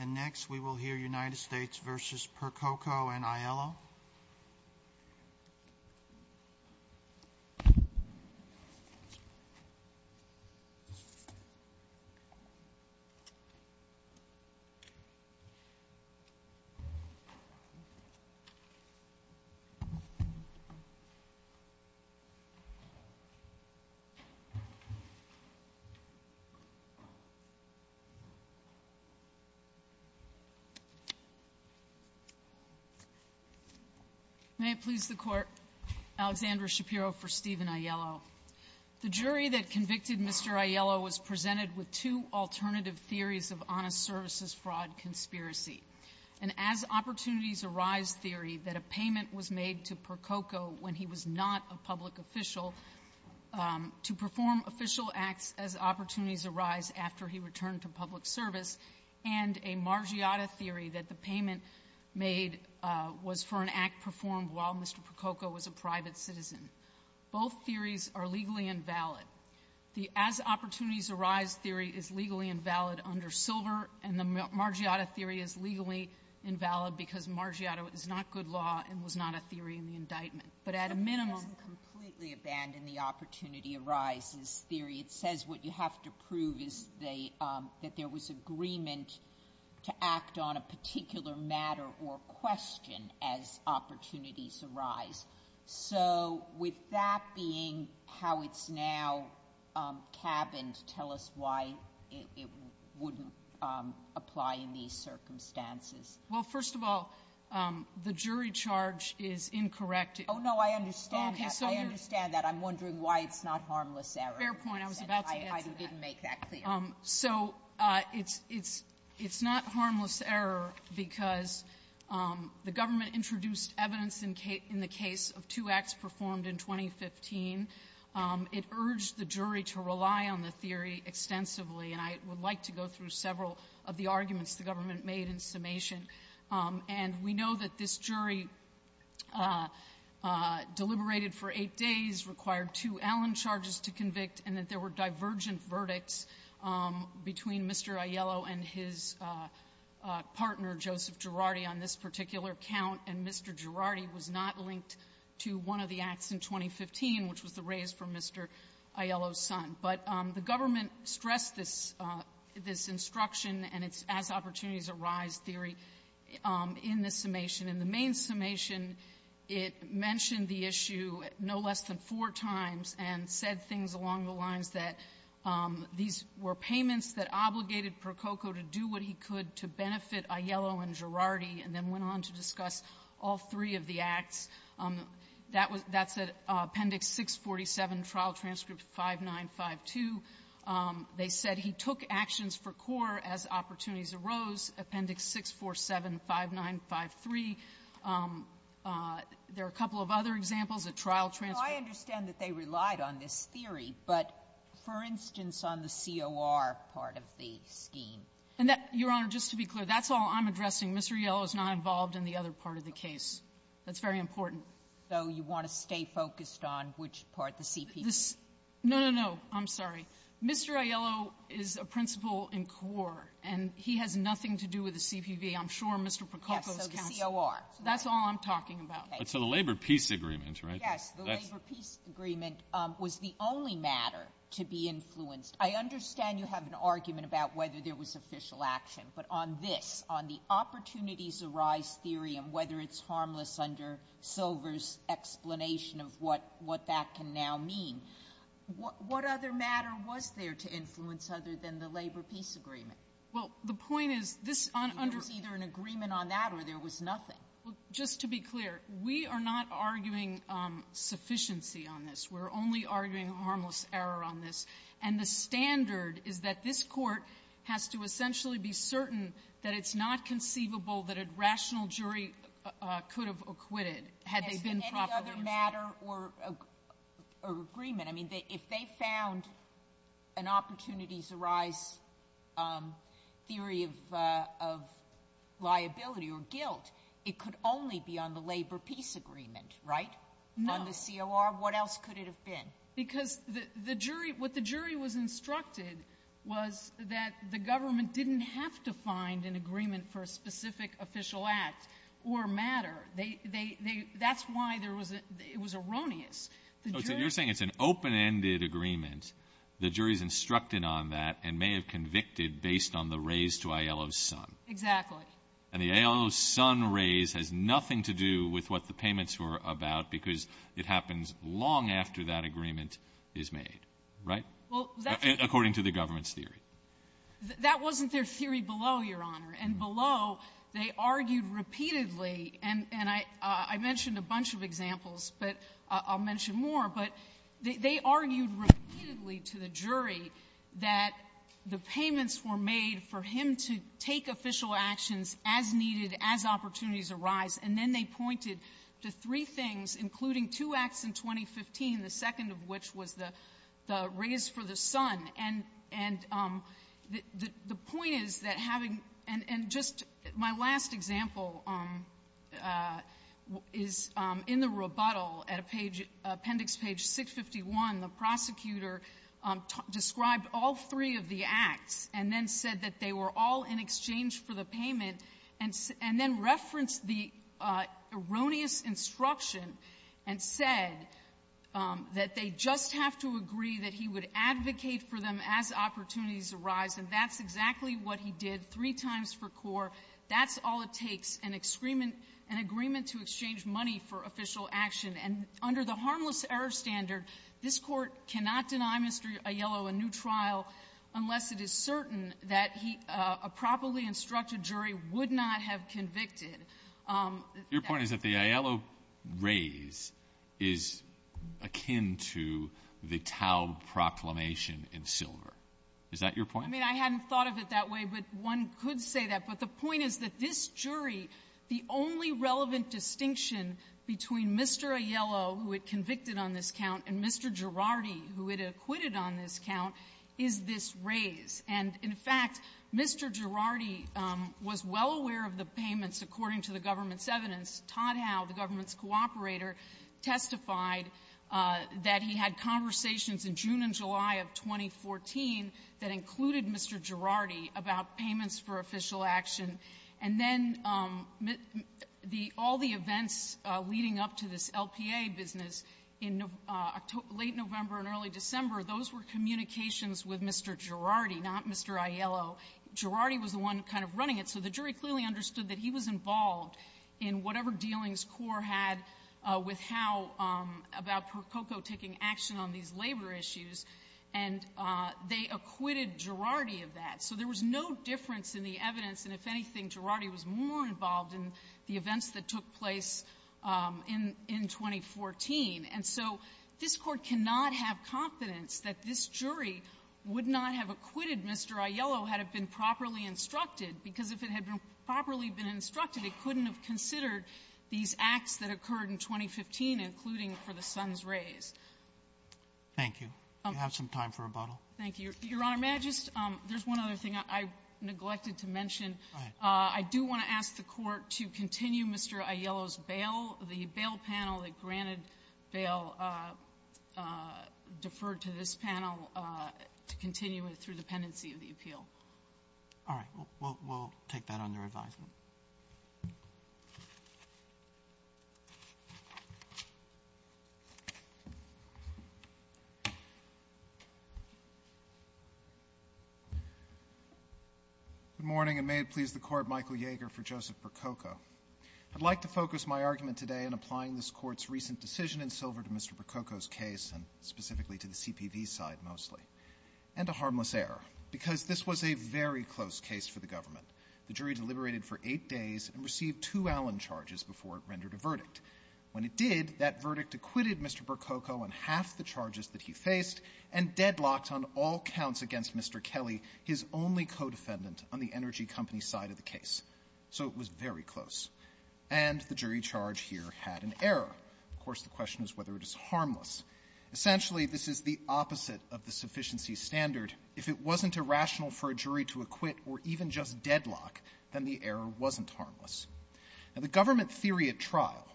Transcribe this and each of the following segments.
And next we will hear United States v. Percoco and Aiello. May it please the Court, Alexandra Shapiro for Stephen Aiello. The jury that convicted Mr. Aiello was presented with two alternative theories of honest services fraud conspiracy. An as-opportunities-arise theory that a payment was made to Percoco when he was not a public official to perform official acts as opportunities arise after he returned to public service, and a Margiotta theory that the payment made was for an act performed while Mr. Percoco was a private citizen. Both theories are legally invalid. The as-opportunities-arise theory is legally invalid under Silver, and the Margiotta theory is legally invalid because Margiotta is not good law and was not a theory in the indictment. But at a minimum it doesn't completely abandon the as-opportunities-arise theory. It says what you have to prove is that there was agreement to act on a particular matter or question as opportunities arise. So with that being how it's now cabined, tell us why it wouldn't apply in these circumstances. Well, first of all, the jury charge is incorrect. Oh, no. I understand that. I understand that. I'm wondering why it's not harmless error. Fair point. I was about to answer that. I didn't make that clear. So it's not harmless error because the government introduced evidence in the case of two acts performed in 2015. It urged the jury to rely on the theory extensively, and I would like to go through several of the arguments the government made in summation. And we know that this case deliberated for eight days, required two Allen charges to convict, and that there were divergent verdicts between Mr. Aiello and his partner, Joseph Girardi, on this particular count, and Mr. Girardi was not linked to one of the acts in 2015, which was the raise for Mr. Aiello's son. But the government stressed this instruction and its as-opportunities-arise theory in the summation. In the main summation, it mentioned the issue no less than four times and said things along the lines that these were payments that obligated Prococo to do what he could to benefit Aiello and Girardi, and then went on to discuss all three of the acts. That was at Appendix 647, Trial Transcript 5952. They said he took actions for core as opportunities arose, Appendix 647, 5953. There are a couple of other examples at Trial Transcript. Sotomayor, I understand that they relied on this theory, but for instance, on the COR part of the scheme. And that, Your Honor, just to be clear, that's all I'm addressing. Mr. Aiello is not involved in the other part of the case. That's very important. So you want to stay focused on which part the CPO is? No, no, no. I'm sorry. Mr. Aiello is a principal in COR, and he has nothing to do with the CPV. I'm sure Mr. Prococo's counsel — Yes, so the COR. That's all I'm talking about. So the labor peace agreement, right? Yes. The labor peace agreement was the only matter to be influenced. I understand you have an argument about whether there was official action, but on this, on the opportunities-arise theory and whether it's harmless under Silver's explanation of what that can now mean, what other matter was there to influence other than the labor peace agreement? Well, the point is, this — There was either an agreement on that or there was nothing. Well, just to be clear, we are not arguing sufficiency on this. We're only arguing harmless error on this. And the standard is that this Court has to essentially be certain that it's not conceivable that a rational jury could have acquitted had they been profitable. But what other matter or agreement — I mean, if they found an opportunities-arise theory of liability or guilt, it could only be on the labor peace agreement, right? No. On the COR? What else could it have been? Because the jury — what the jury was instructed was that the government didn't have to find an agreement for a specific official act or matter. They — they — they — that's why there was a — it was erroneous. So you're saying it's an open-ended agreement. The jury's instructed on that and may have convicted based on the raise to Aiello's son. Exactly. And the Aiello's son raise has nothing to do with what the payments were about, because it happens long after that agreement is made, right, according to the government's theory? That wasn't their theory below, Your Honor. And below, they argued repeatedly, and — and I — I mentioned a bunch of examples, but I'll mention more. But they — they argued repeatedly to the jury that the payments were made for him to take official actions as needed, as opportunities arise. And then they pointed to three things, including two acts in 2015, the second of which was the — the raise for the son. And — and the — the point is that having — and — and just my last example is in the rebuttal at a page — appendix page 651. The prosecutor described all three of the acts and then said that they were all in exchange for the payment, and — and then referenced the erroneous instruction and said that they just have to agree that he would advocate for them as opportunities arise. And that's exactly what he did three times for Core. That's all it takes, an agreement to exchange money for official action. And under the Harmless Error Standard, this Court cannot deny Mr. Aiello a new trial unless it is certain that he — a properly instructed jury would not have convicted. Your point is that the Aiello raise is akin to the Taub proclamation in Silver. Is that your point? I mean, I hadn't thought of it that way, but one could say that. But the point is that this jury, the only relevant distinction between Mr. Aiello, who had convicted on this count, and Mr. Girardi, who had acquitted on this count, is this raise. And, in fact, Mr. Girardi was well aware of the payments, according to the government's evidence. Todd Howe, the government's cooperator, testified that he had conversations in June and July of 2014 that included Mr. Girardi about payments for official action. And then the — all the events leading up to this LPA business in late November and early December, those were communications with Mr. Girardi, not Mr. Aiello. Girardi was the one kind of running it. So the jury clearly understood that he was involved in whatever dealings CORE had with Howe about Prococo taking action on these labor issues, and they acquitted Girardi of that. So there was no difference in the evidence, and if anything, Girardi was more involved in the events that took place in — in 2014. And so this Court cannot have confidence that this jury would not have acquitted Mr. Aiello had it been properly instructed, because if it had been properly been instructed, it couldn't have considered these acts that occurred in 2015, including for the son's raise. Thank you. Do you have some time for rebuttal? Thank you. Your Honor, may I just — there's one other thing I neglected to mention. Go ahead. I do want to ask the Court to continue Mr. Aiello's bail, the bail panel that granted bail deferred to this panel to continue it through dependency of the appeal. All right. We'll — we'll take that under advisement. Good morning, and may it please the Court, Michael Yeager for Joseph Prococo. I'd like to focus my argument today in applying this Court's recent decision in silver to Mr. Prococo's case, and specifically to the CPV side mostly, and to harmless error, because this was a very close case for the government. The jury deliberated for eight days and received two Allen charges before it rendered a verdict. When it did, that verdict acquitted Mr. Prococo on half the charges that he faced and deadlocked on all counts against Mr. Kelly, his only co-defendant on the energy company side of the case. So it was very close. And the jury charge here had an error. Of course, the question is whether it is harmless. Essentially, this is the opposite of the sufficiency standard. If it wasn't irrational for a jury to acquit or even just deadlock, then the error wasn't harmless. Now, the government theory at trial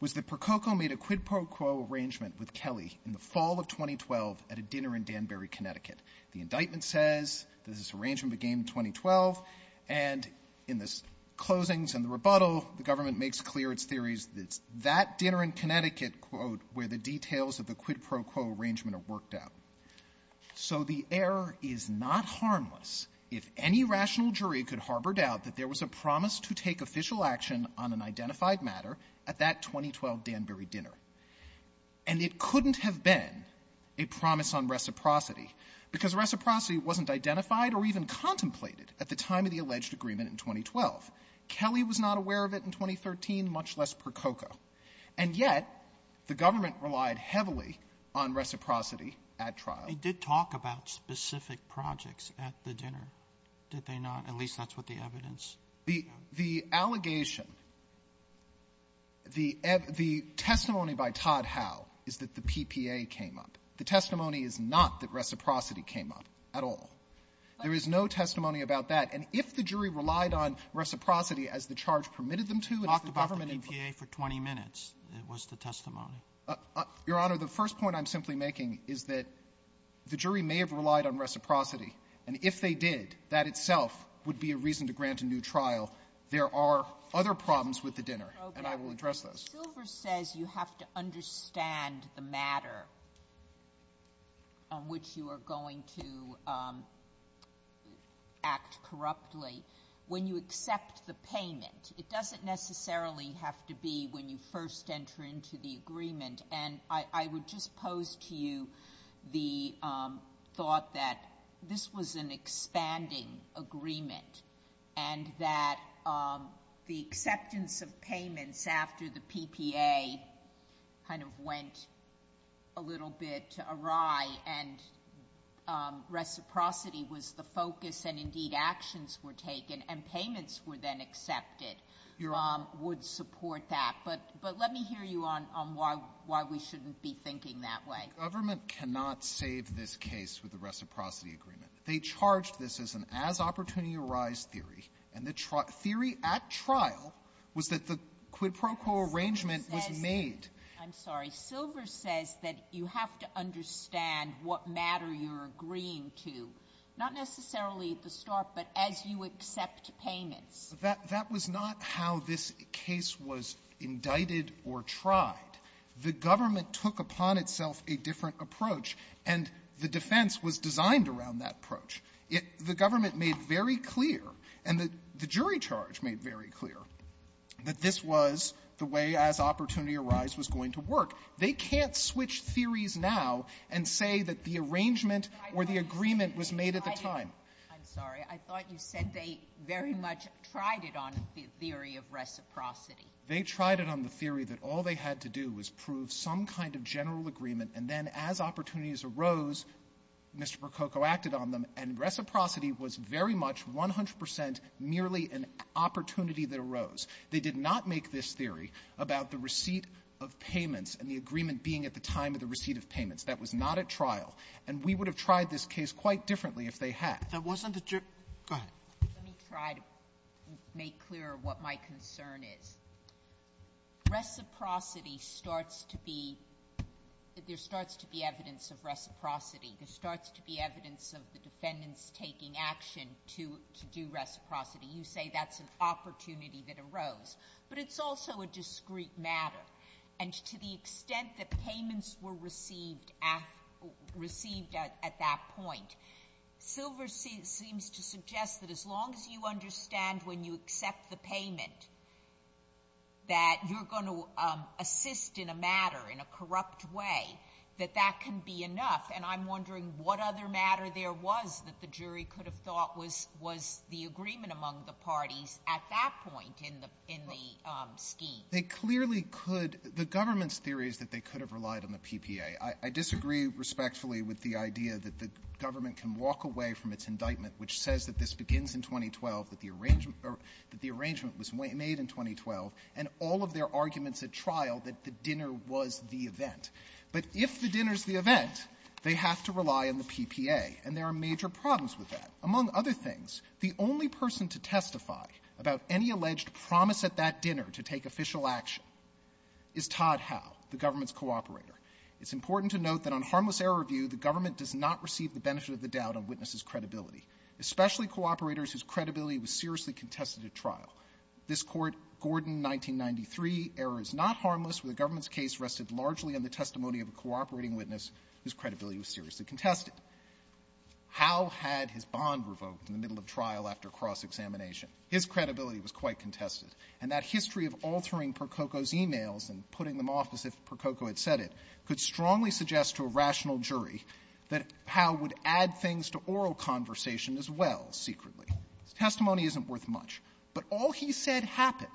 was that Prococo made a quid pro quo arrangement with Kelly in the fall of 2012 at a dinner in Danbury, Connecticut. The indictment says that this arrangement began in 2012, and in the closings and the rebuttal, the government makes clear its theories that it's that dinner in Connecticut, quote, where the details of the quid pro quo arrangement are worked out. So the error is not harmless if any rational jury could harbor doubt that there was a promise to take official action on an identified matter at that 2012 Danbury dinner. And it couldn't have been a promise on reciprocity because reciprocity wasn't identified or even contemplated at the time of the alleged agreement in 2012. Kelly was not aware of it in 2013, much less Prococo. And yet, the government relied heavily on reciprocity at trial. Roberts. They did talk about specific projects at the dinner, did they not? At least that's what the evidence. The allegation, the testimony by Todd Howe is that the PPA came up. The testimony is not that reciprocity came up at all. There is no testimony about that. And if the jury relied on reciprocity as the charge permitted them to and as the government informed them to do at the dinner, it would be a reason to grant a new trial. Your Honor, the first point I'm simply making is that the jury may have relied on There are other problems with the dinner, and I will address those. Silver says you have to understand the matter on which you are going to act corruptly when you accept the payment. It doesn't necessarily have to be when you first enter into the agreement. And I would just pose to you the thought that this was an expanding agreement and that the acceptance of payments after the PPA kind of went a little bit awry and reciprocity was the focus and, indeed, actions were taken and payments were then accepted would support that. But let me hear you on why we shouldn't be thinking that way. The government cannot save this case with a reciprocity agreement. They charged this as an as-opportunity-arise theory, and the theory at trial was that the quid pro quo arrangement was made. I'm sorry. Silver says that you have to understand what matter you're agreeing to, not necessarily at the start, but as you accept payments. That was not how this case was indicted or tried. The government took upon itself a different approach, and the defense was designed around that approach. The government made very clear, and the jury charge made very clear, that this was the way as-opportunity-arise was going to work. They can't switch theories now and say that the arrangement or the agreement was made at the time. I'm sorry. I thought you said they very much tried it on the theory of reciprocity. They tried it on the theory that all they had to do was prove some kind of general agreement, and then as opportunities arose, Mr. Prococo acted on them, and reciprocity was very much 100 percent merely an opportunity that arose. They did not make this theory about the receipt of payments and the agreement being at the time of the receipt of payments. That was not at trial. And we would have tried this case quite differently if they had. Sotomayor, go ahead. Let me try to make clear what my concern is. Reciprocity starts to be—there starts to be evidence of reciprocity. There starts to be evidence of the defendants taking action to do reciprocity. You say that's an opportunity that arose, but it's also a discreet matter, and to the extent that payments were received at that point, Silver seems to suggest that as long as you understand when you accept the payment that you're going to assist in a matter, in a corrupt way, that that can be enough. And I'm wondering what other matter there was that the jury could have thought was the agreement among the parties at that point in the scheme. They clearly could — the government's theory is that they could have relied on the PPA. I disagree respectfully with the idea that the government can walk away from its indictment, which says that this begins in 2012, that the arrangement — that the arrangement was made in 2012, and all of their arguments at trial, that the dinner was the event. But if the dinner's the event, they have to rely on the PPA, and there are major problems with that. Among other things, the only person to testify about any alleged promise at that dinner to take official action is Todd Howe, the government's cooperator. It's important to note that on harmless error review, the government does not receive the benefit of the doubt on witnesses' credibility, especially cooperators whose credibility was seriously contested at trial. This Court, Gordon, 1993, error is not harmless, where the government's case rested largely on the testimony of a cooperating witness whose credibility was seriously contested. Howe had his bond revoked in the middle of trial after cross-examination. His credibility was quite contested. And that history of altering Prococo's emails and putting them off as if Prococo had said it could strongly suggest to a rational jury that Howe would add things to oral conversation as well, secretly. His testimony isn't worth much. But all he said happened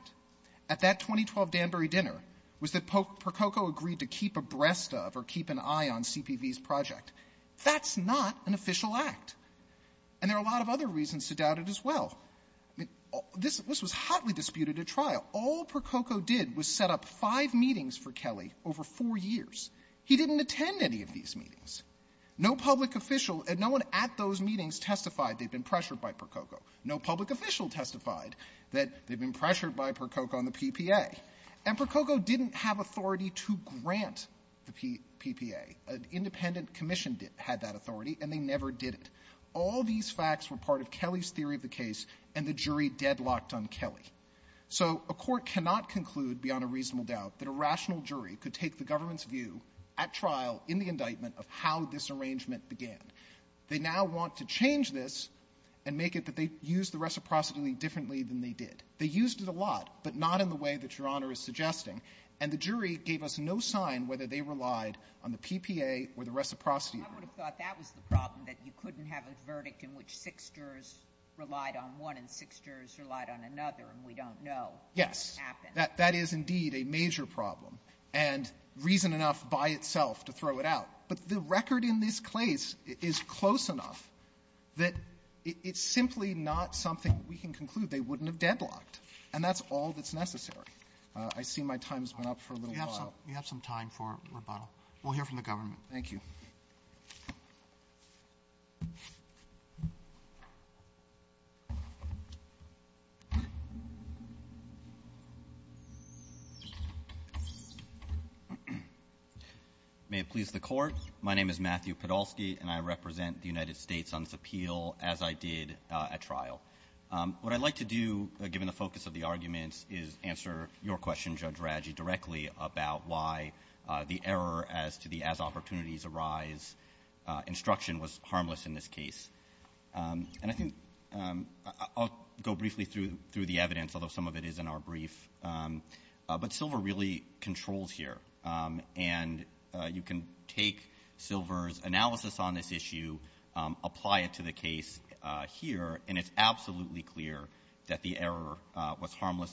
at that 2012 Danbury dinner was that Prococo agreed to keep abreast of or keep an eye on CPV's project. That's not an official act. And there are a lot of other reasons to doubt it as well. I mean, this was hotly disputed at trial. All Prococo did was set up five meetings for Kelly over four years. He didn't attend any of these meetings. No public official, no one at those meetings testified they'd been pressured by Prococo. No public official testified that they'd been pressured by Prococo on the PPA. And Prococo didn't have authority to grant the PPA. An independent commission had that authority, and they never did it. All these facts were part of Kelly's theory of the case, and the jury deadlocked on Kelly. So a court cannot conclude beyond a reasonable doubt that a rational jury could take the government's view at trial in the indictment of how this arrangement began. They now want to change this and make it that they used the reciprocity differently than they did. They used it a lot, but not in the way that Your Honor is suggesting. And the jury gave us no sign whether they relied on the PPA or the reciprocity. Sotomayor. I would have thought that was the problem, that you couldn't have a verdict in which six jurors relied on one and six jurors relied on another, and we don't know what happened. Yes. That is indeed a major problem, and reason enough by itself to throw it out. But the record in this case is close enough that it's simply not something we can conclude they wouldn't have deadlocked. And that's all that's necessary. I see my time has been up for a little while. We have some time for rebuttal. We'll hear from the government. Thank you. May it please the Court. My name is Matthew Podolsky, and I represent the United States on this appeal as I did at trial. What I'd like to do, given the focus of the arguments, is answer your question, about why the error as to the as-opportunities-arise instruction was harmless in this case. And I think I'll go briefly through the evidence, although some of it is in our brief. But Silver really controls here, and you can take Silver's analysis on this issue, apply it to the case here, and it's absolutely clear that the error was in the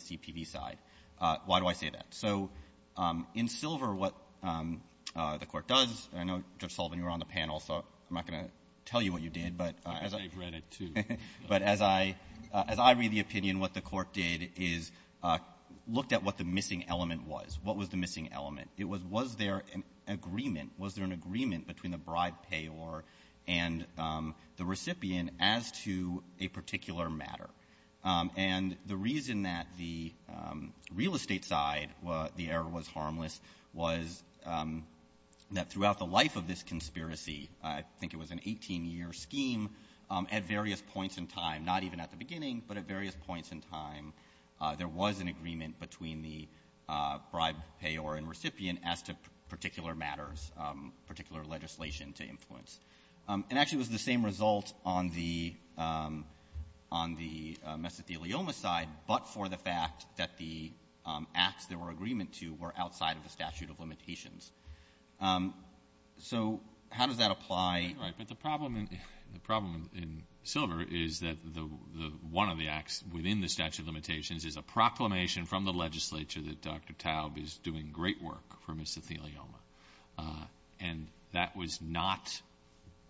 CPV side. Why do I say that? So in Silver, what the Court does, and I know, Judge Sullivan, you were on the panel, so I'm not going to tell you what you did, but as I read the opinion, what the Court did is looked at what the missing element was. What was the missing element? It was, was there an agreement? Was there an agreement between the bribe payor and the recipient as to a particular matter? And the reason that the real estate side, the error was harmless, was that throughout the life of this conspiracy, I think it was an 18-year scheme, at various points in time, not even at the beginning, but at various points in time, there was an agreement between the bribe payor and recipient as to particular matters, particular legislation to influence. And actually, it was the same result on the, on the side for the fact that the acts there were agreement to were outside of the statute of limitations. So how does that apply? Right, but the problem in, the problem in Silver is that the, the, one of the acts within the statute of limitations is a proclamation from the legislature that Dr. Taub is doing great work for misothelioma. And that was not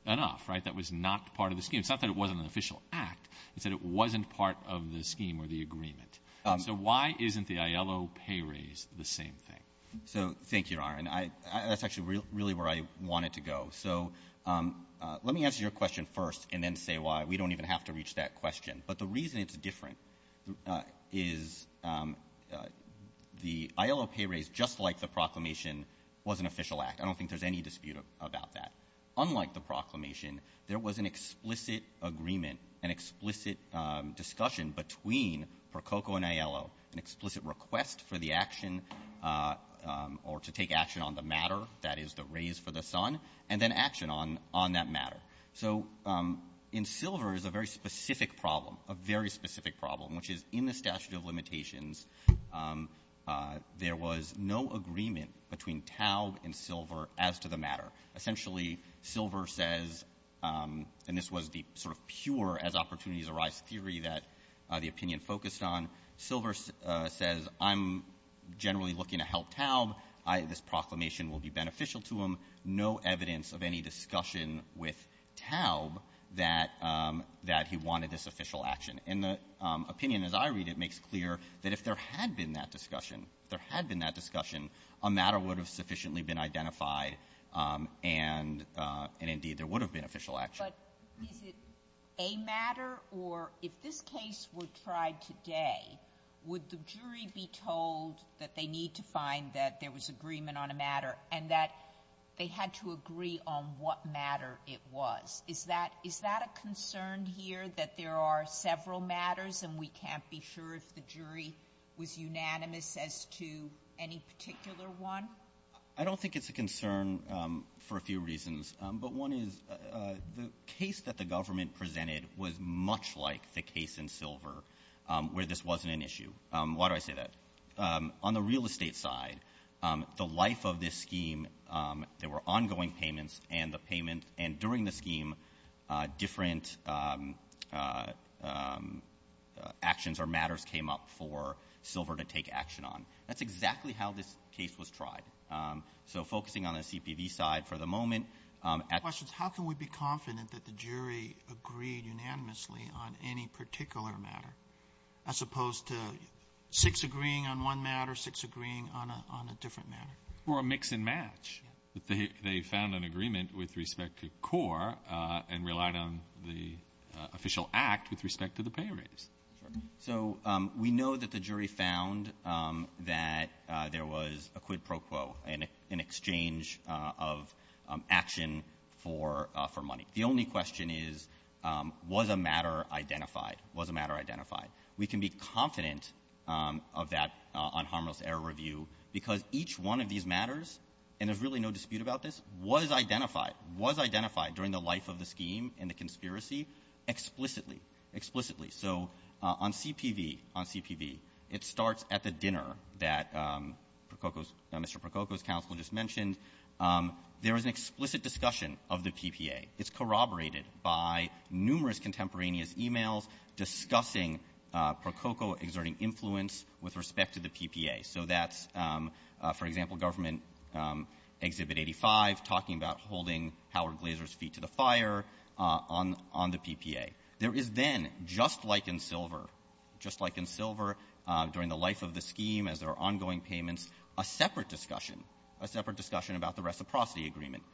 enough, right? That was not part of the scheme. It's not that it wasn't an official act. It's that it wasn't part of the scheme or the agreement. So why isn't the ILO pay raise the same thing? So thank you, Your Honor. And I, I, that's actually really where I wanted to go. So let me answer your question first and then say why. We don't even have to reach that question. But the reason it's different is the ILO pay raise, just like the proclamation, was an official act. I don't think there's any dispute about that. Unlike the proclamation, there was an explicit agreement, an explicit discussion between Prococo and ILO, an explicit request for the action or to take action on the matter, that is the raise for the son, and then action on, on that matter. So in Silver is a very specific problem, a very specific problem, which is in the statute of limitations, there was no agreement between Taub and Silver as to the matter. Essentially, Silver says, and this was the sort of pure as opportunities arise theory that the opinion focused on, Silver says, I'm generally looking to help Taub. I, this proclamation will be beneficial to him. No evidence of any discussion with Taub that, that he wanted this official action. And the opinion, as I read it, makes clear that if there had been that discussion, if there had been that discussion, a matter would have sufficiently been identified and, and indeed, there would have been official action. But is it a matter, or if this case were tried today, would the jury be told that they need to find that there was agreement on a matter and that they had to agree on what matter it was? Is that, is that a concern here, that there are several matters and we can't be sure if the jury was unanimous as to any particular one? I don't think it's a concern for a few reasons. But one is the case that the government presented was much like the case in Silver where this wasn't an issue. Why do I say that? On the real estate side, the life of this scheme, there were ongoing payments and the payments came up for Silver to take action on. That's exactly how this case was tried. So focusing on the CPV side for the moment. My question is how can we be confident that the jury agreed unanimously on any particular matter, as opposed to six agreeing on one matter, six agreeing on a, on a different matter? Or a mix and match. Yes. That they, they found an agreement with respect to Core and relied on the official act with respect to the pay rates. So we know that the jury found that there was a quid pro quo, an exchange of action for, for money. The only question is, was a matter identified? Was a matter identified? We can be confident of that on harmless error review because each one of these matters, and there's really no dispute about this, was identified, was identified during the life of the scheme and the conspiracy explicitly, explicitly. So on CPV, on CPV, it starts at the dinner that Prococo's, Mr. Prococo's counsel just mentioned. There was an explicit discussion of the PPA. It's corroborated by numerous contemporaneous emails discussing Prococo exerting influence with respect to the PPA. So that's, for example, government Exhibit 85 talking about holding Howard Glazer's feet to the fire on, on the PPA. There is then, just like in Silver, just like in Silver, during the life of the scheme as there are ongoing payments, a separate discussion, a separate discussion about the reciprocity agreement.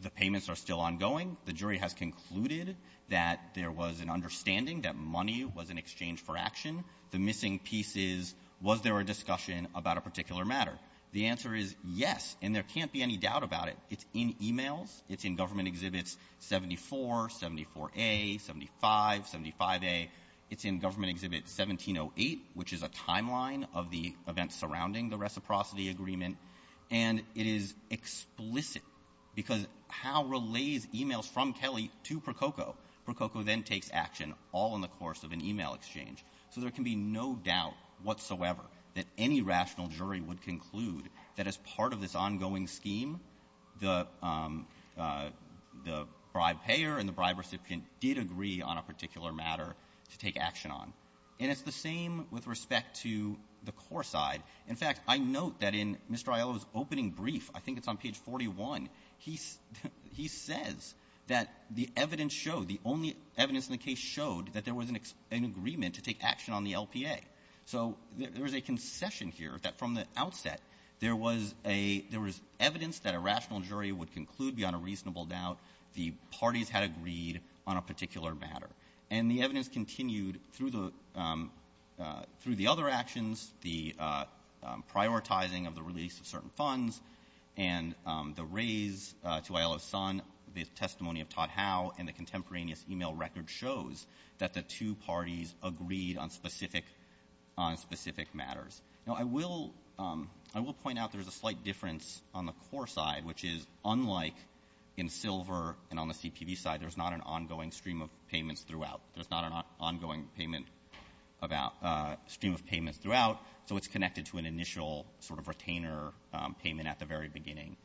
The payments are still ongoing. The jury has concluded that there was an understanding that money was an exchange for action. The missing piece is, was there a discussion about a particular matter? The answer is yes, and there can't be any doubt about it. It's in emails. It's in government Exhibits 74, 74A, 75, 75A. It's in government Exhibit 1708, which is a timeline of the events surrounding the reciprocity agreement. And it is explicit because how relays emails from Kelly to Prococo. Prococo then takes action all in the course of an email exchange. So there can be no doubt whatsoever that any rational jury would conclude that as part of this ongoing scheme, the, the bribed payer and the bribed recipient did agree on a particular matter to take action on. And it's the same with respect to the core side. In fact, I note that in Mr. Aiello's opening brief, I think it's on page 41, he, he says that the evidence showed, the only evidence in the case showed that there was an agreement to take action on the LPA. So there, there is a concession here that from the outset, there was a, there was evidence that a rational jury would conclude beyond a reasonable doubt the parties had agreed on a particular matter. And the evidence continued through the, through the other actions, the prioritizing of the release of certain funds, and the raise to Aiello's son, the testimony of Todd Howe, and the contemporaneous email record shows that the two parties agreed on specific, on specific matters. Now, I will, I will point out there's a slight difference on the core side, which is unlike in Silver and on the CPB side, there's not an ongoing stream of payments throughout. There's not an ongoing payment about stream of payments throughout, so it's connected to an initial sort of retainer payment at the very beginning.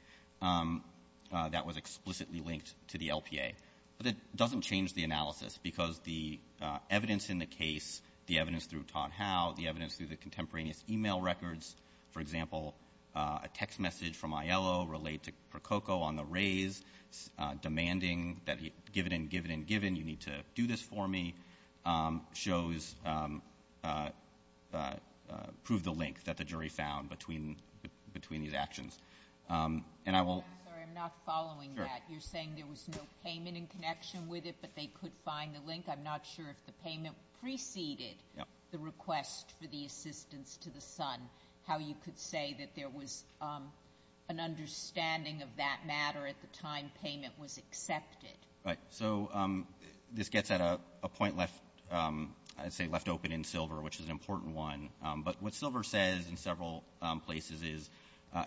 That was explicitly linked to the LPA. But it doesn't change the analysis, because the evidence in the case, the evidence through Todd Howe, the evidence through the contemporaneous email records, for example, a text message from Aiello relayed to Prococo on the raise, demanding that he, given and given and given, you need to do this for me, shows, prove the link that the jury found between, between these actions. And I will. I'm sorry, I'm not following that. Sure. You're saying there was no payment in connection with it, but they could find the link. I'm not sure if the payment preceded the request for the assistance to the son, how you could say that there was an understanding of that matter at the time payment was accepted. Right. So this gets at a point left, I'd say left open in Silver, which is an example in several places is,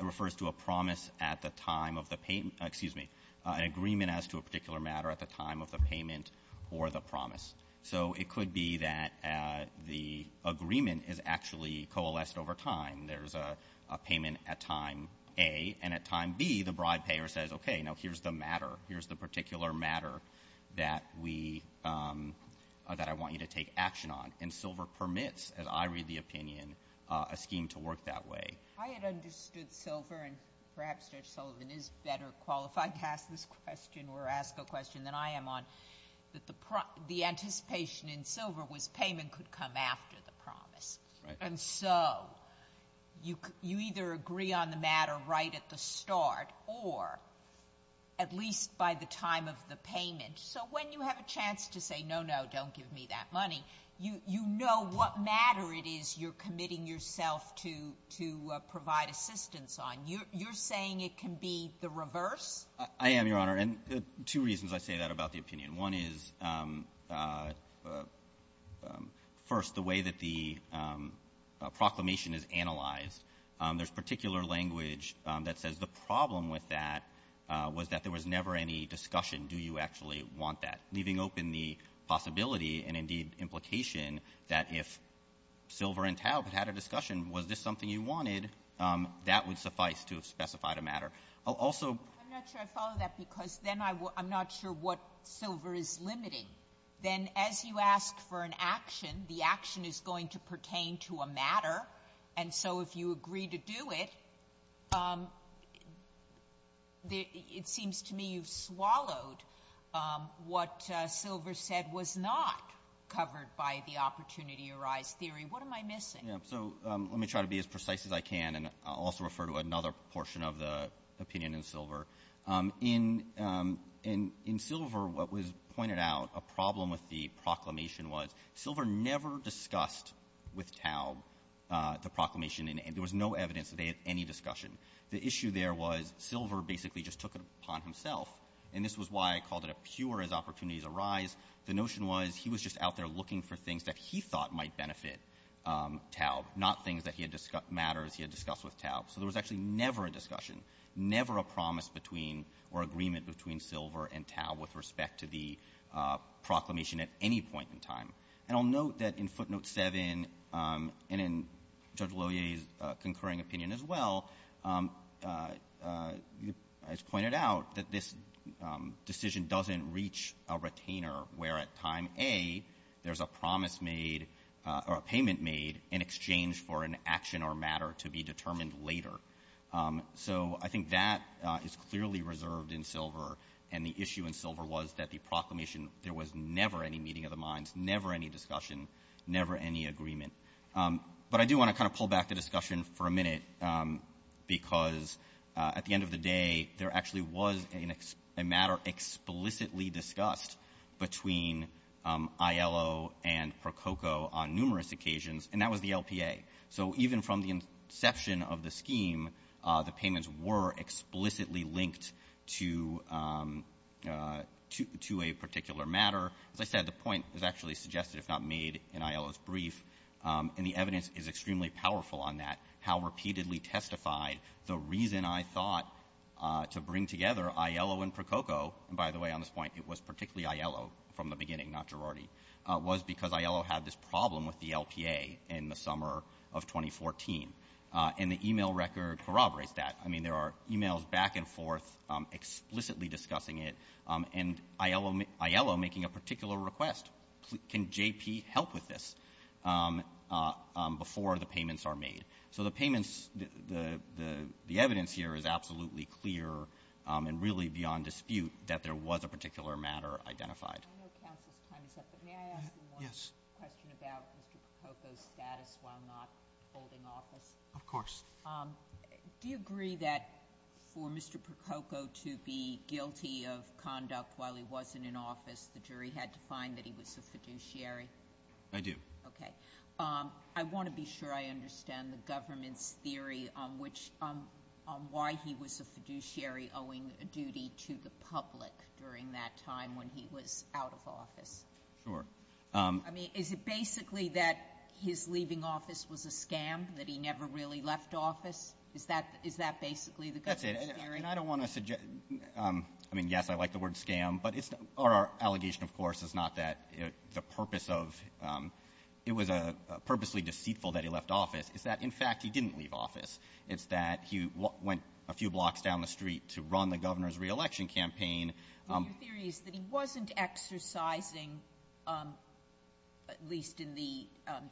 refers to a promise at the time of the payment, excuse me, an agreement as to a particular matter at the time of the payment or the promise. So it could be that the agreement is actually coalesced over time. There's a payment at time A, and at time B, the bride payer says, okay, now here's the matter. Here's the particular matter that we, that I want you to take that way. I had understood Silver, and perhaps Judge Sullivan is better qualified to ask this question or ask a question than I am on, that the anticipation in Silver was payment could come after the promise. And so you either agree on the matter right at the start or at least by the time of the payment. So when you have a chance to say, no, no, don't give me that money, you know what matter it is you're committing yourself to provide assistance on. You're saying it can be the reverse? I am, Your Honor. And two reasons I say that about the opinion. One is, first, the way that the proclamation is analyzed. There's particular language that says the problem with that was that there was never any discussion, do you actually want that, leaving open the possibility and, indeed, implication that if Silver and Taub had a discussion, was this something you wanted, that would suffice to have specified a matter. I'll also... I'm not sure I follow that because then I'm not sure what Silver is limiting. Then as you ask for an action, the action is going to pertain to a matter. And so if you agree to do it, it seems to me you've swallowed what Silver said was not covered by the opportunity-arise theory. What am I missing? Yeah. So let me try to be as precise as I can, and I'll also refer to another portion of the opinion in Silver. In Silver, what was pointed out, a problem with the proclamation was Silver never discussed with Taub the proclamation, and there was no evidence that they had any discussion. The issue there was Silver basically just took it upon himself, and this was why I called it a pure as opportunities arise. The notion was he was just out there looking for things that he thought might benefit Taub, not things that he had discussed, matters he had discussed with Taub. So there was actually never a discussion, never a promise between or agreement between Silver and Taub with respect to the proclamation at any point in time. And I'll note that in Footnote 7 and in Judge Loyer's concurring opinion as well, it's at time A, there's a promise made or a payment made in exchange for an action or matter to be determined later. So I think that is clearly reserved in Silver, and the issue in Silver was that the proclamation, there was never any meeting of the minds, never any discussion, never any agreement. But I do want to kind of pull back the discussion for a minute, because at the end of the day, there actually was a matter explicitly discussed between ILO and ProCoCo on numerous occasions, and that was the LPA. So even from the inception of the scheme, the payments were explicitly linked to a particular matter. As I said, the point is actually suggested if not made in ILO's brief, and the evidence is extremely powerful on that, how repeatedly testified the reason I thought to bring together ILO and ProCoCo, and by the way, on this point, it was particularly ILO from the beginning, not Girardi, was because ILO had this problem with the LPA in the summer of 2014. And the email record corroborates that. I mean, there are emails back and forth explicitly discussing it, and ILO making a particular request. Can JP help with this? Before the payments are made. So the payments, the evidence here is absolutely clear and really beyond dispute that there was a particular matter identified. I know counsel's time is up, but may I ask you one question about Mr. ProCoCo's status while not holding office? Of course. Do you agree that for Mr. ProCoCo to be guilty of conduct while he wasn't in office, the jury had to find that he was a fiduciary? I do. Okay. I want to be sure I understand the government's theory on which, on why he was a fiduciary owing a duty to the public during that time when he was out of office. Sure. I mean, is it basically that his leaving office was a scam, that he never really left office? Is that basically the government's theory? That's it. And I don't want to suggest, I mean, yes, I like the word scam, but it's, our purpose of, it was purposely deceitful that he left office. Is that, in fact, he didn't leave office. It's that he went a few blocks down the street to run the governor's re-election campaign. Your theory is that he wasn't exercising, at least in the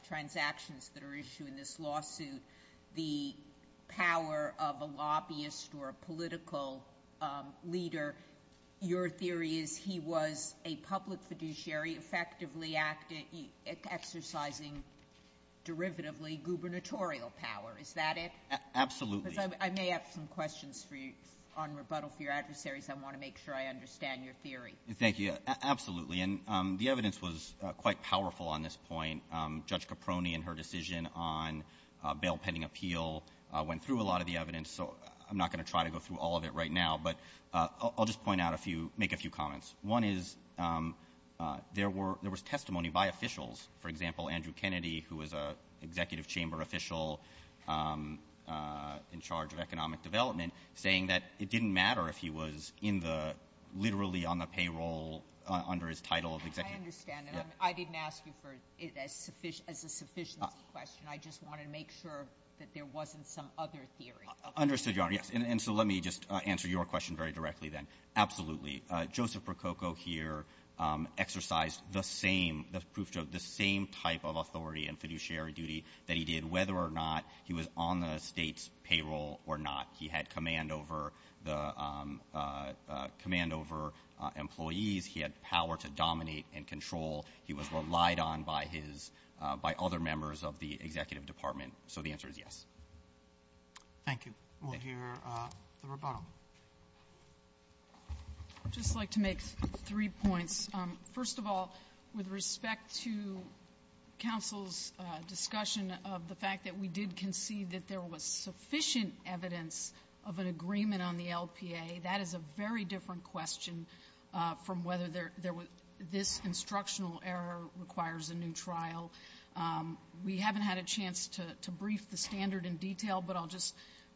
transactions that are issued in this lawsuit, the power of a lobbyist or a lobbyist, that he wasn't exercising derivatively gubernatorial power. Is that it? Absolutely. Because I may have some questions for you on rebuttal for your adversaries. I want to make sure I understand your theory. Thank you. Absolutely. And the evidence was quite powerful on this point. Judge Caproni and her decision on a bail pending appeal went through a lot of the evidence, so I'm not going to try to go through all of it right now. But I'll just point out a few, make a few comments. One is there was testimony by officials, for example, Andrew Kennedy, who was an executive chamber official in charge of economic development, saying that it didn't matter if he was in the, literally on the payroll under his title of executive. I understand that. I didn't ask you for a sufficiency question. I just wanted to make sure that there wasn't some other theory. Understood, Your Honor. Yes. And so let me just answer your question very directly then. Absolutely. Joseph Prococo here exercised the same, the proof, the same type of authority and fiduciary duty that he did, whether or not he was on the state's payroll or not. He had command over the, command over employees. He had power to dominate and control. He was relied on by his, by other members of the executive department. So the answer, the rebuttal. I'd just like to make three points. First of all, with respect to counsel's discussion of the fact that we did concede that there was sufficient evidence of an agreement on the LPA, that is a very different question from whether there, this instructional error requires a new trial. We haven't had a chance to brief the standard in detail, but I'll just,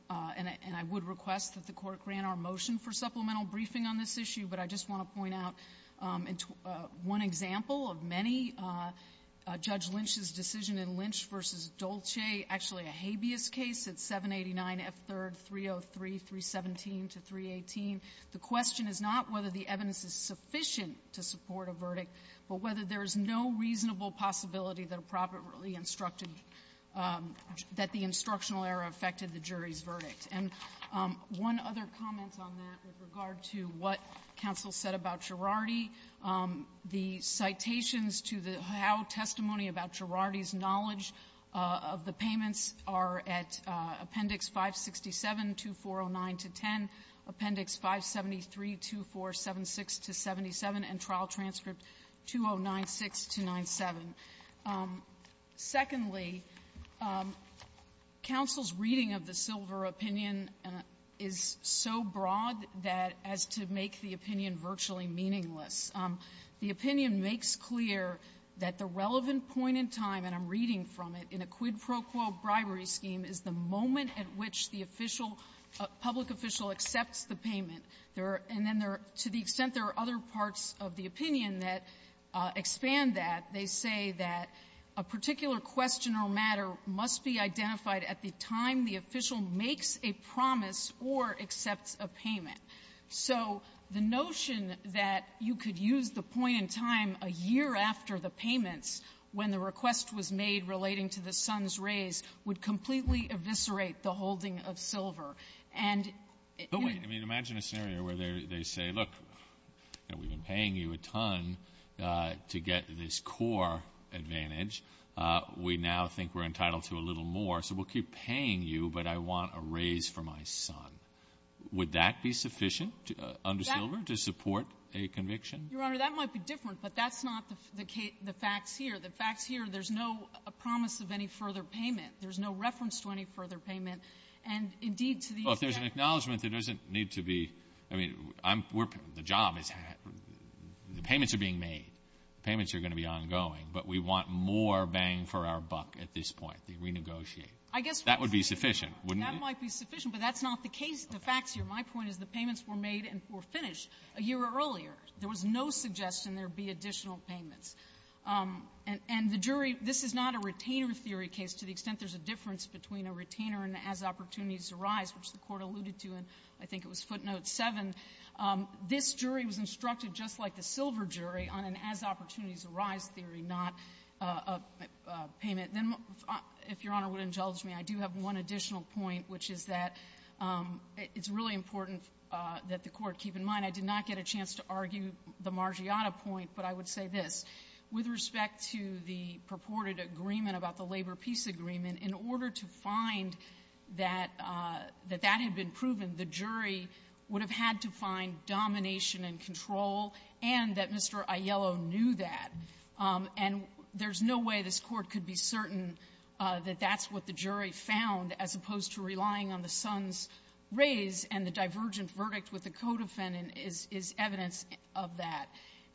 and I would request that the Court grant our motion for supplemental briefing on this issue, but I just want to point out one example of many, Judge Lynch's decision in Lynch v. Dolce, actually a habeas case, it's 789F3-303, 317 to 318. The question is not whether the evidence is sufficient to support a verdict, but whether there is no reasonable possibility that a properly instructed, that the instructional error affected the jury's verdict. And one other comment on that with regard to what counsel said about Girardi, the citations to the Howe testimony about Girardi's knowledge of the payments are at Appendix 567, 2409-10, Appendix 573, 2476-77, and Trial Transcript 2096-97. Secondly, counsel's reading of the silver opinion is so broad that, as to make the opinion virtually meaningless, the opinion makes clear that the relevant point in time, and I'm reading from it, in a quid pro quo bribery scheme is the moment at which the official public official accepts the payment. And then there are, to the extent there are other parts of the opinion that expand that, they say that a particular question or matter must be identified at the time the official makes a promise or accepts a payment. So the notion that you could use the point in time a year after the payments when the request was made relating to the son's raise would completely eviscerate the holding of silver. And — But wait. I mean, imagine a scenario where they say, look, you know, we've been paying you a ton to get this core advantage. We now think we're entitled to a little more, so we'll keep paying you, but I want a raise for my son. Would that be sufficient under silver to support a conviction? Your Honor, that might be different, but that's not the facts here. The facts here, there's no promise of any further payment. There's no reference to any further payment. And indeed, to the extent — Well, if there's an acknowledgment, there doesn't need to be — I mean, I'm — the job is — the payments are being made. The payments are going to be ongoing. But we want more bang for our buck at this point. They renegotiate. I guess — That would be sufficient, wouldn't it? That might be sufficient, but that's not the case. The facts here, my point is the payments were made and were finished a year earlier. There was no suggestion there would be additional payments. And the jury — this is not a retainer theory case, to the extent there's a difference between a retainer and an as-opportunities-arise, which the Court alluded to in, I think it was footnote 7. This jury was instructed, just like the silver jury, on an as-opportunities-arise theory, not a payment. Then, if Your Honor would indulge me, I do have one additional point, which is that it's really important that the Court keep in mind I did not get a chance to argue the Margiotta point, but I would say this. With respect to the purported agreement about the labor-peace agreement, in order to find that — that that had been proven, the jury would have had to find domination and control, and that Mr. Aiello knew that. And there's no way this Court could be certain that that's what the jury found, as opposed to relying on the son's raise and the divergent verdict with the co-defendant is evidence of that.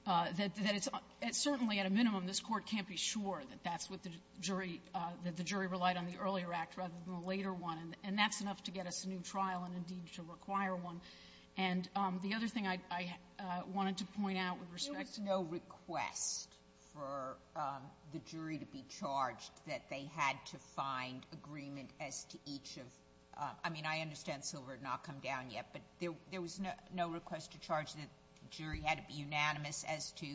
That it's certainly, at a minimum, this Court can't be sure that that's what the jury — that the jury relied on the earlier act rather than the later one. And that's enough to get us a new trial and, indeed, to require one. And the other thing I wanted to point out with respect to the — Sotomayor, there was no request for the jury to be charged, that they had to find agreement as to each of — I mean, I understand Silver had not come down yet, but there was no request to charge that the jury had to be unanimous as to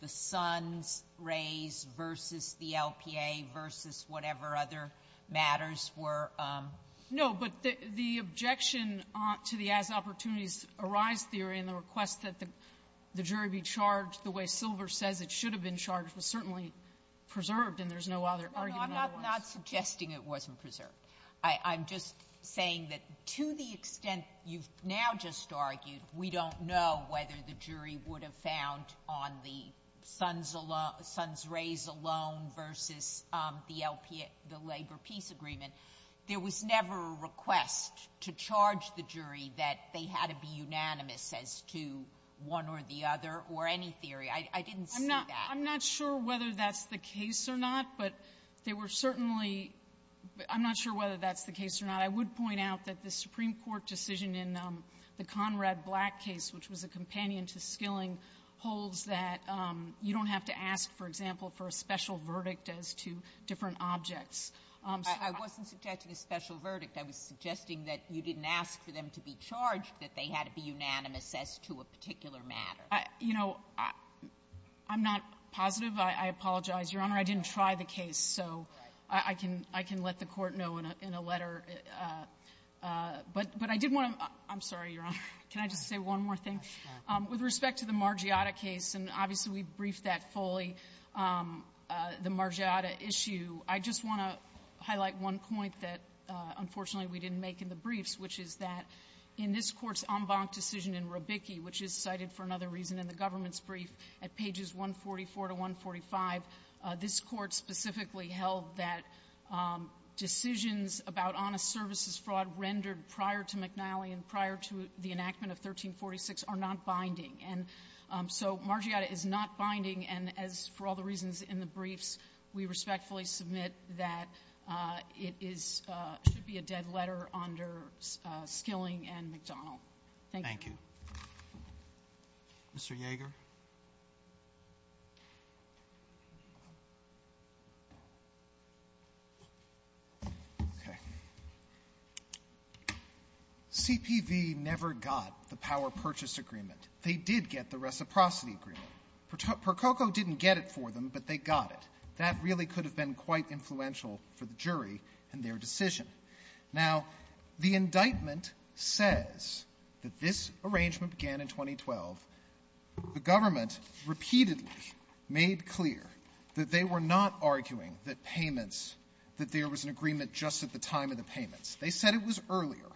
the son's raise versus the LPA versus whatever other matters were — No. But the objection to the as-opportunities-arise theory and the request that the jury be charged the way Silver says it should have been charged was certainly preserved, and there's no other argument. No, I'm not suggesting it wasn't preserved. I'm just saying that to the extent you've now just argued, we don't know whether the jury would have found on the son's — son's raise alone versus the LPA — the labor peace agreement. There was never a request to charge the jury that they had to be unanimous as to one or the other or any theory. I didn't see that. I'm not sure whether that's the case or not, but there were certainly — I'm not sure whether that's the case or not. I would point out that the Supreme Court decision in the Conrad Black case, which was a companion to Skilling, holds that you don't have to ask, for example, for a special verdict as to different objects. I wasn't suggesting a special verdict. I was suggesting that you didn't ask for them to be charged, that they had to be unanimous as to a particular matter. I — you know, I'm not positive. I apologize. Your Honor, I didn't try the case, so I can — I can let the Court know in a letter. But I did want to — I'm sorry, Your Honor. Can I just say one more thing? With respect to the Margiotta case, and obviously we briefed that fully, the Margiotta issue, I just want to highlight one point that, unfortunately, we didn't make in the briefs, which is that in this Court's en banc decision in Rubicchi, which is cited for another reason in the government's brief, at pages 144 to 145, this Court specifically held that decisions about honest services fraud rendered prior to McNally and prior to the enactment of 1346 are not binding. And so Margiotta is not binding, and as for all the reasons in the briefs, we respectfully submit that it is — should be a dead letter under Skilling and McDonald. Thank you. Mr. Yeager. Okay. CPV never got the power-purchase agreement. They did get the reciprocity agreement. Prococo didn't get it for them, but they got it. That really could have been quite influential for the jury in their decision. Now, the indictment says that this arrangement began in 2012. The government repeatedly made clear that they were not arguing that payments — that there was an agreement just at the time of the payments. They said it was earlier,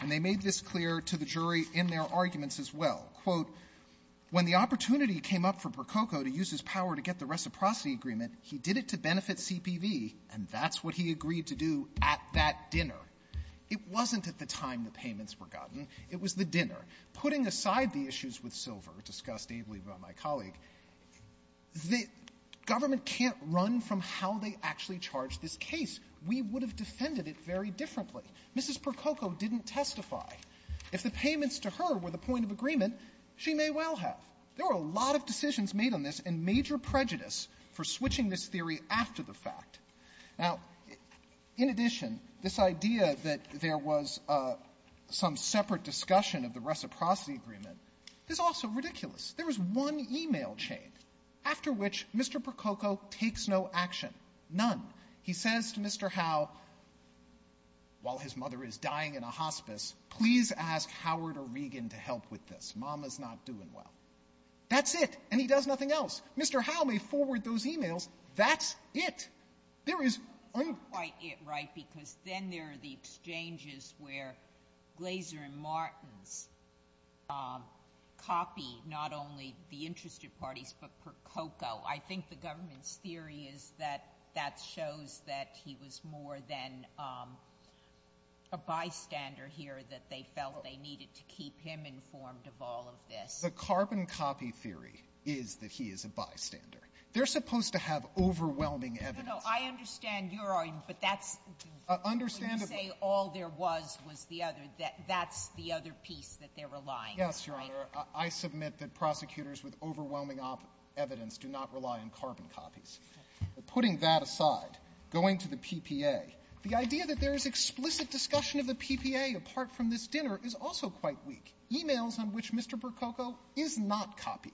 and they made this clear to the jury in their arguments as well. Quote, when the opportunity came up for Prococo to use his power to get the reciprocity agreement, he did it to benefit CPV, and that's what he agreed to do at that dinner. It wasn't at the time the payments were gotten. It was the dinner. Putting aside the issues with Silver, discussed ably by my colleague, the government can't run from how they actually charged this case. We would have defended it very differently. Mrs. Prococo didn't testify. If the payments to her were the point of agreement, she may well have. There were a lot of decisions made on this and major prejudice for switching this theory after the fact. Now, in addition, this idea that there was some separate discussion of the reciprocity agreement is also ridiculous. There was one e-mail chain after which Mr. Prococo takes no action, none. He says to Mr. Howe, while his mother is dying in a hospice, please ask Howard or Regan to help with this. Mama's not doing well. That's it. And he does nothing else. Mr. Howe may forward those e-mails. That's it. There is un ---- It's not quite it, right, because then there are the exchanges where Glaser and Martens copy not only the interested parties, but Prococo. I think the government's theory is that that shows that he was more than a bystander here, that they felt they needed to keep him informed of all of this. The carbon copy theory is that he is a bystander. They're supposed to have overwhelming evidence. No, no. I understand your argument, but that's the one where you say all there was was the other. That's the other piece that they're relying on. Yes, Your Honor. I submit that prosecutors with overwhelming evidence do not rely on carbon copies. Putting that aside, going to the PPA, the idea that there is explicit discussion of the PPA apart from this dinner is also quite weak. E-mails on which Mr. Prococo is not copied,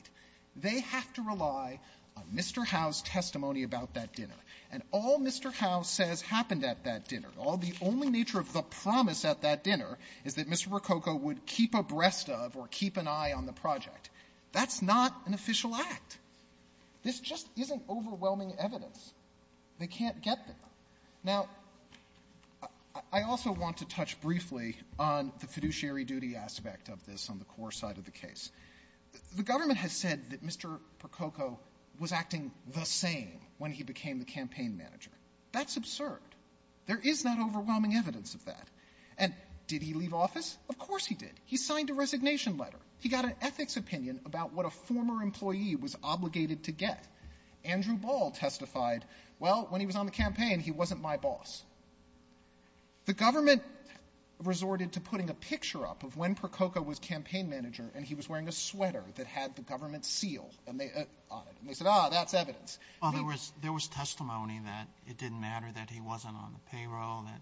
they have to rely on Mr. Howe's testimony about that dinner. And all Mr. Howe says happened at that dinner, all the only nature of the promise at that dinner is that Mr. Prococo would keep abreast of or keep an eye on the project. That's not an official act. This just isn't overwhelming evidence. They can't get there. Now, I also want to touch briefly on the fiduciary duty aspect of this on the core side of the case. The government has said that Mr. Prococo was acting the same when he became the campaign manager. That's absurd. There is not overwhelming evidence of that. And did he leave office? Of course he did. He signed a resignation letter. He got an ethics opinion about what a former employee was obligated to get. Andrew Ball testified, well, when he was on the campaign, he wasn't my boss. The government resorted to putting a picture up of when Prococo was campaign manager and he was wearing a sweater that had the government seal on it. And they said, ah, that's evidence. Well, there was testimony that it didn't matter that he wasn't on the payroll, that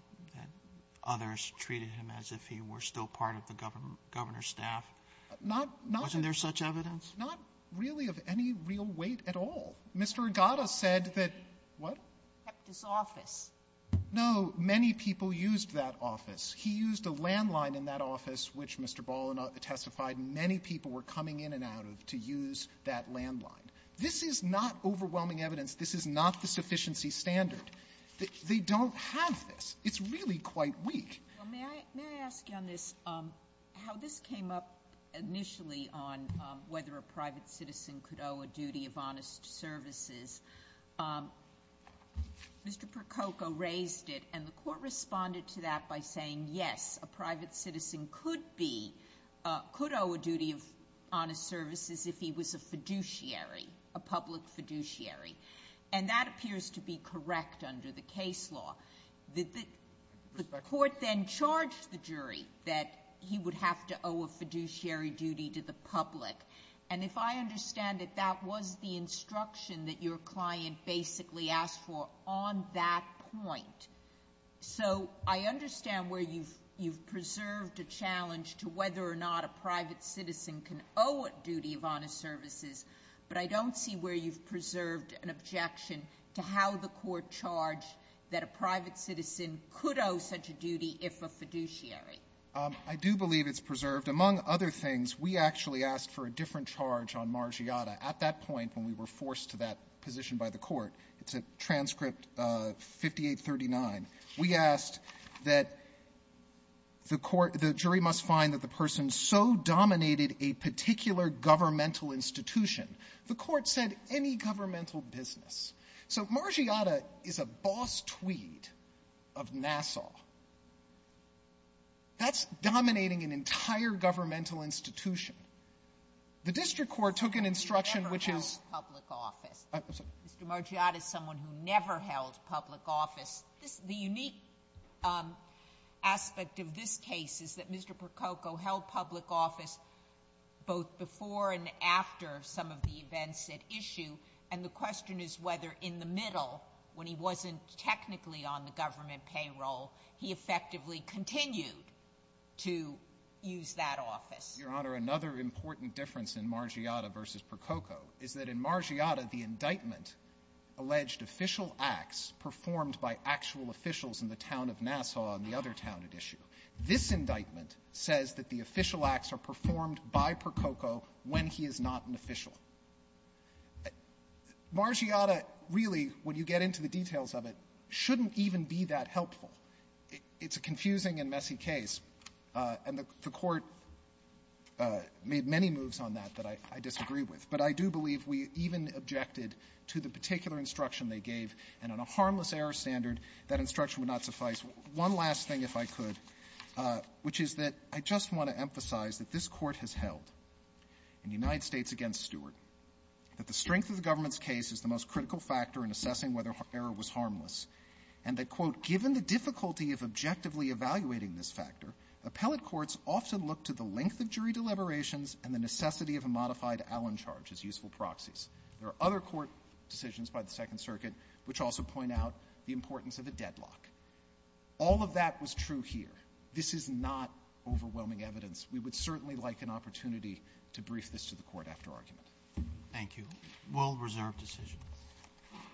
others treated him as if he were still part of the governor's staff. Wasn't there such evidence? Not really of any real weight at all. Mr. Agata said that he kept his office. No. Many people used that office. He used a landline in that office, which Mr. Ball testified many people were coming in and out of to use that landline. This is not overwhelming evidence. This is not the sufficiency standard. They don't have this. It's really quite weak. May I ask you on this, how this came up initially on whether a private citizen could owe a duty of honest services. Mr. Prococo raised it and the court responded to that by saying, yes, a private citizen could owe a duty of honest services if he was a fiduciary, a public fiduciary. And that appears to be correct under the case law. The court then charged the jury that he would have to owe a fiduciary duty to the public. And if I understand it, that was the instruction that your client basically asked for on that point. So I understand where you've preserved a challenge to whether or not a private citizen can owe a duty of honest services. But I don't see where you've preserved an objection to how the court charged that a private citizen could owe such a duty if a fiduciary. I do believe it's preserved. Among other things, we actually asked for a different charge on Margiotta. At that point, when we were forced to that position by the court, it's a transcript 5839. We asked that the jury must find that the person so dominated a particular governmental institution. The court said any governmental business. So Margiotta is a boss tweed of Nassau. That's dominating an entire governmental institution. The district court took an instruction which is- Mr. Margiotta is someone who never held public office. The unique aspect of this case is that Mr. Prococo held public office both before and after some of the events at issue. And the question is whether in the middle, when he wasn't technically on the government payroll, he effectively continued to use that office. Your Honor, another important difference in Margiotta versus Prococo is that in Margiotta, the indictment alleged official acts performed by actual officials in the town of Nassau and the other town at issue. This indictment says that the official acts are performed by Prococo when he is not an official. Margiotta, really, when you get into the details of it, shouldn't even be that helpful. It's a confusing and messy case. And the court made many moves on that that I disagree with. But I do believe we even objected to the particular instruction they gave. And on a harmless error standard, that instruction would not suffice. One last thing, if I could, which is that I just want to emphasize that this Court has held in United States against Stewart, that the strength of the government's case is the most critical factor in assessing whether error was harmless. And that, quote, given the difficulty of objectively evaluating this factor, appellate courts often look to the length of jury deliberations and the necessity of a modified Allen charge as useful proxies. There are other court decisions by the Second Circuit, which also point out the importance of a deadlock. All of that was true here. This is not overwhelming evidence. We would certainly like an opportunity to brief this to the court after argument. Thank you. We'll reserve decisions.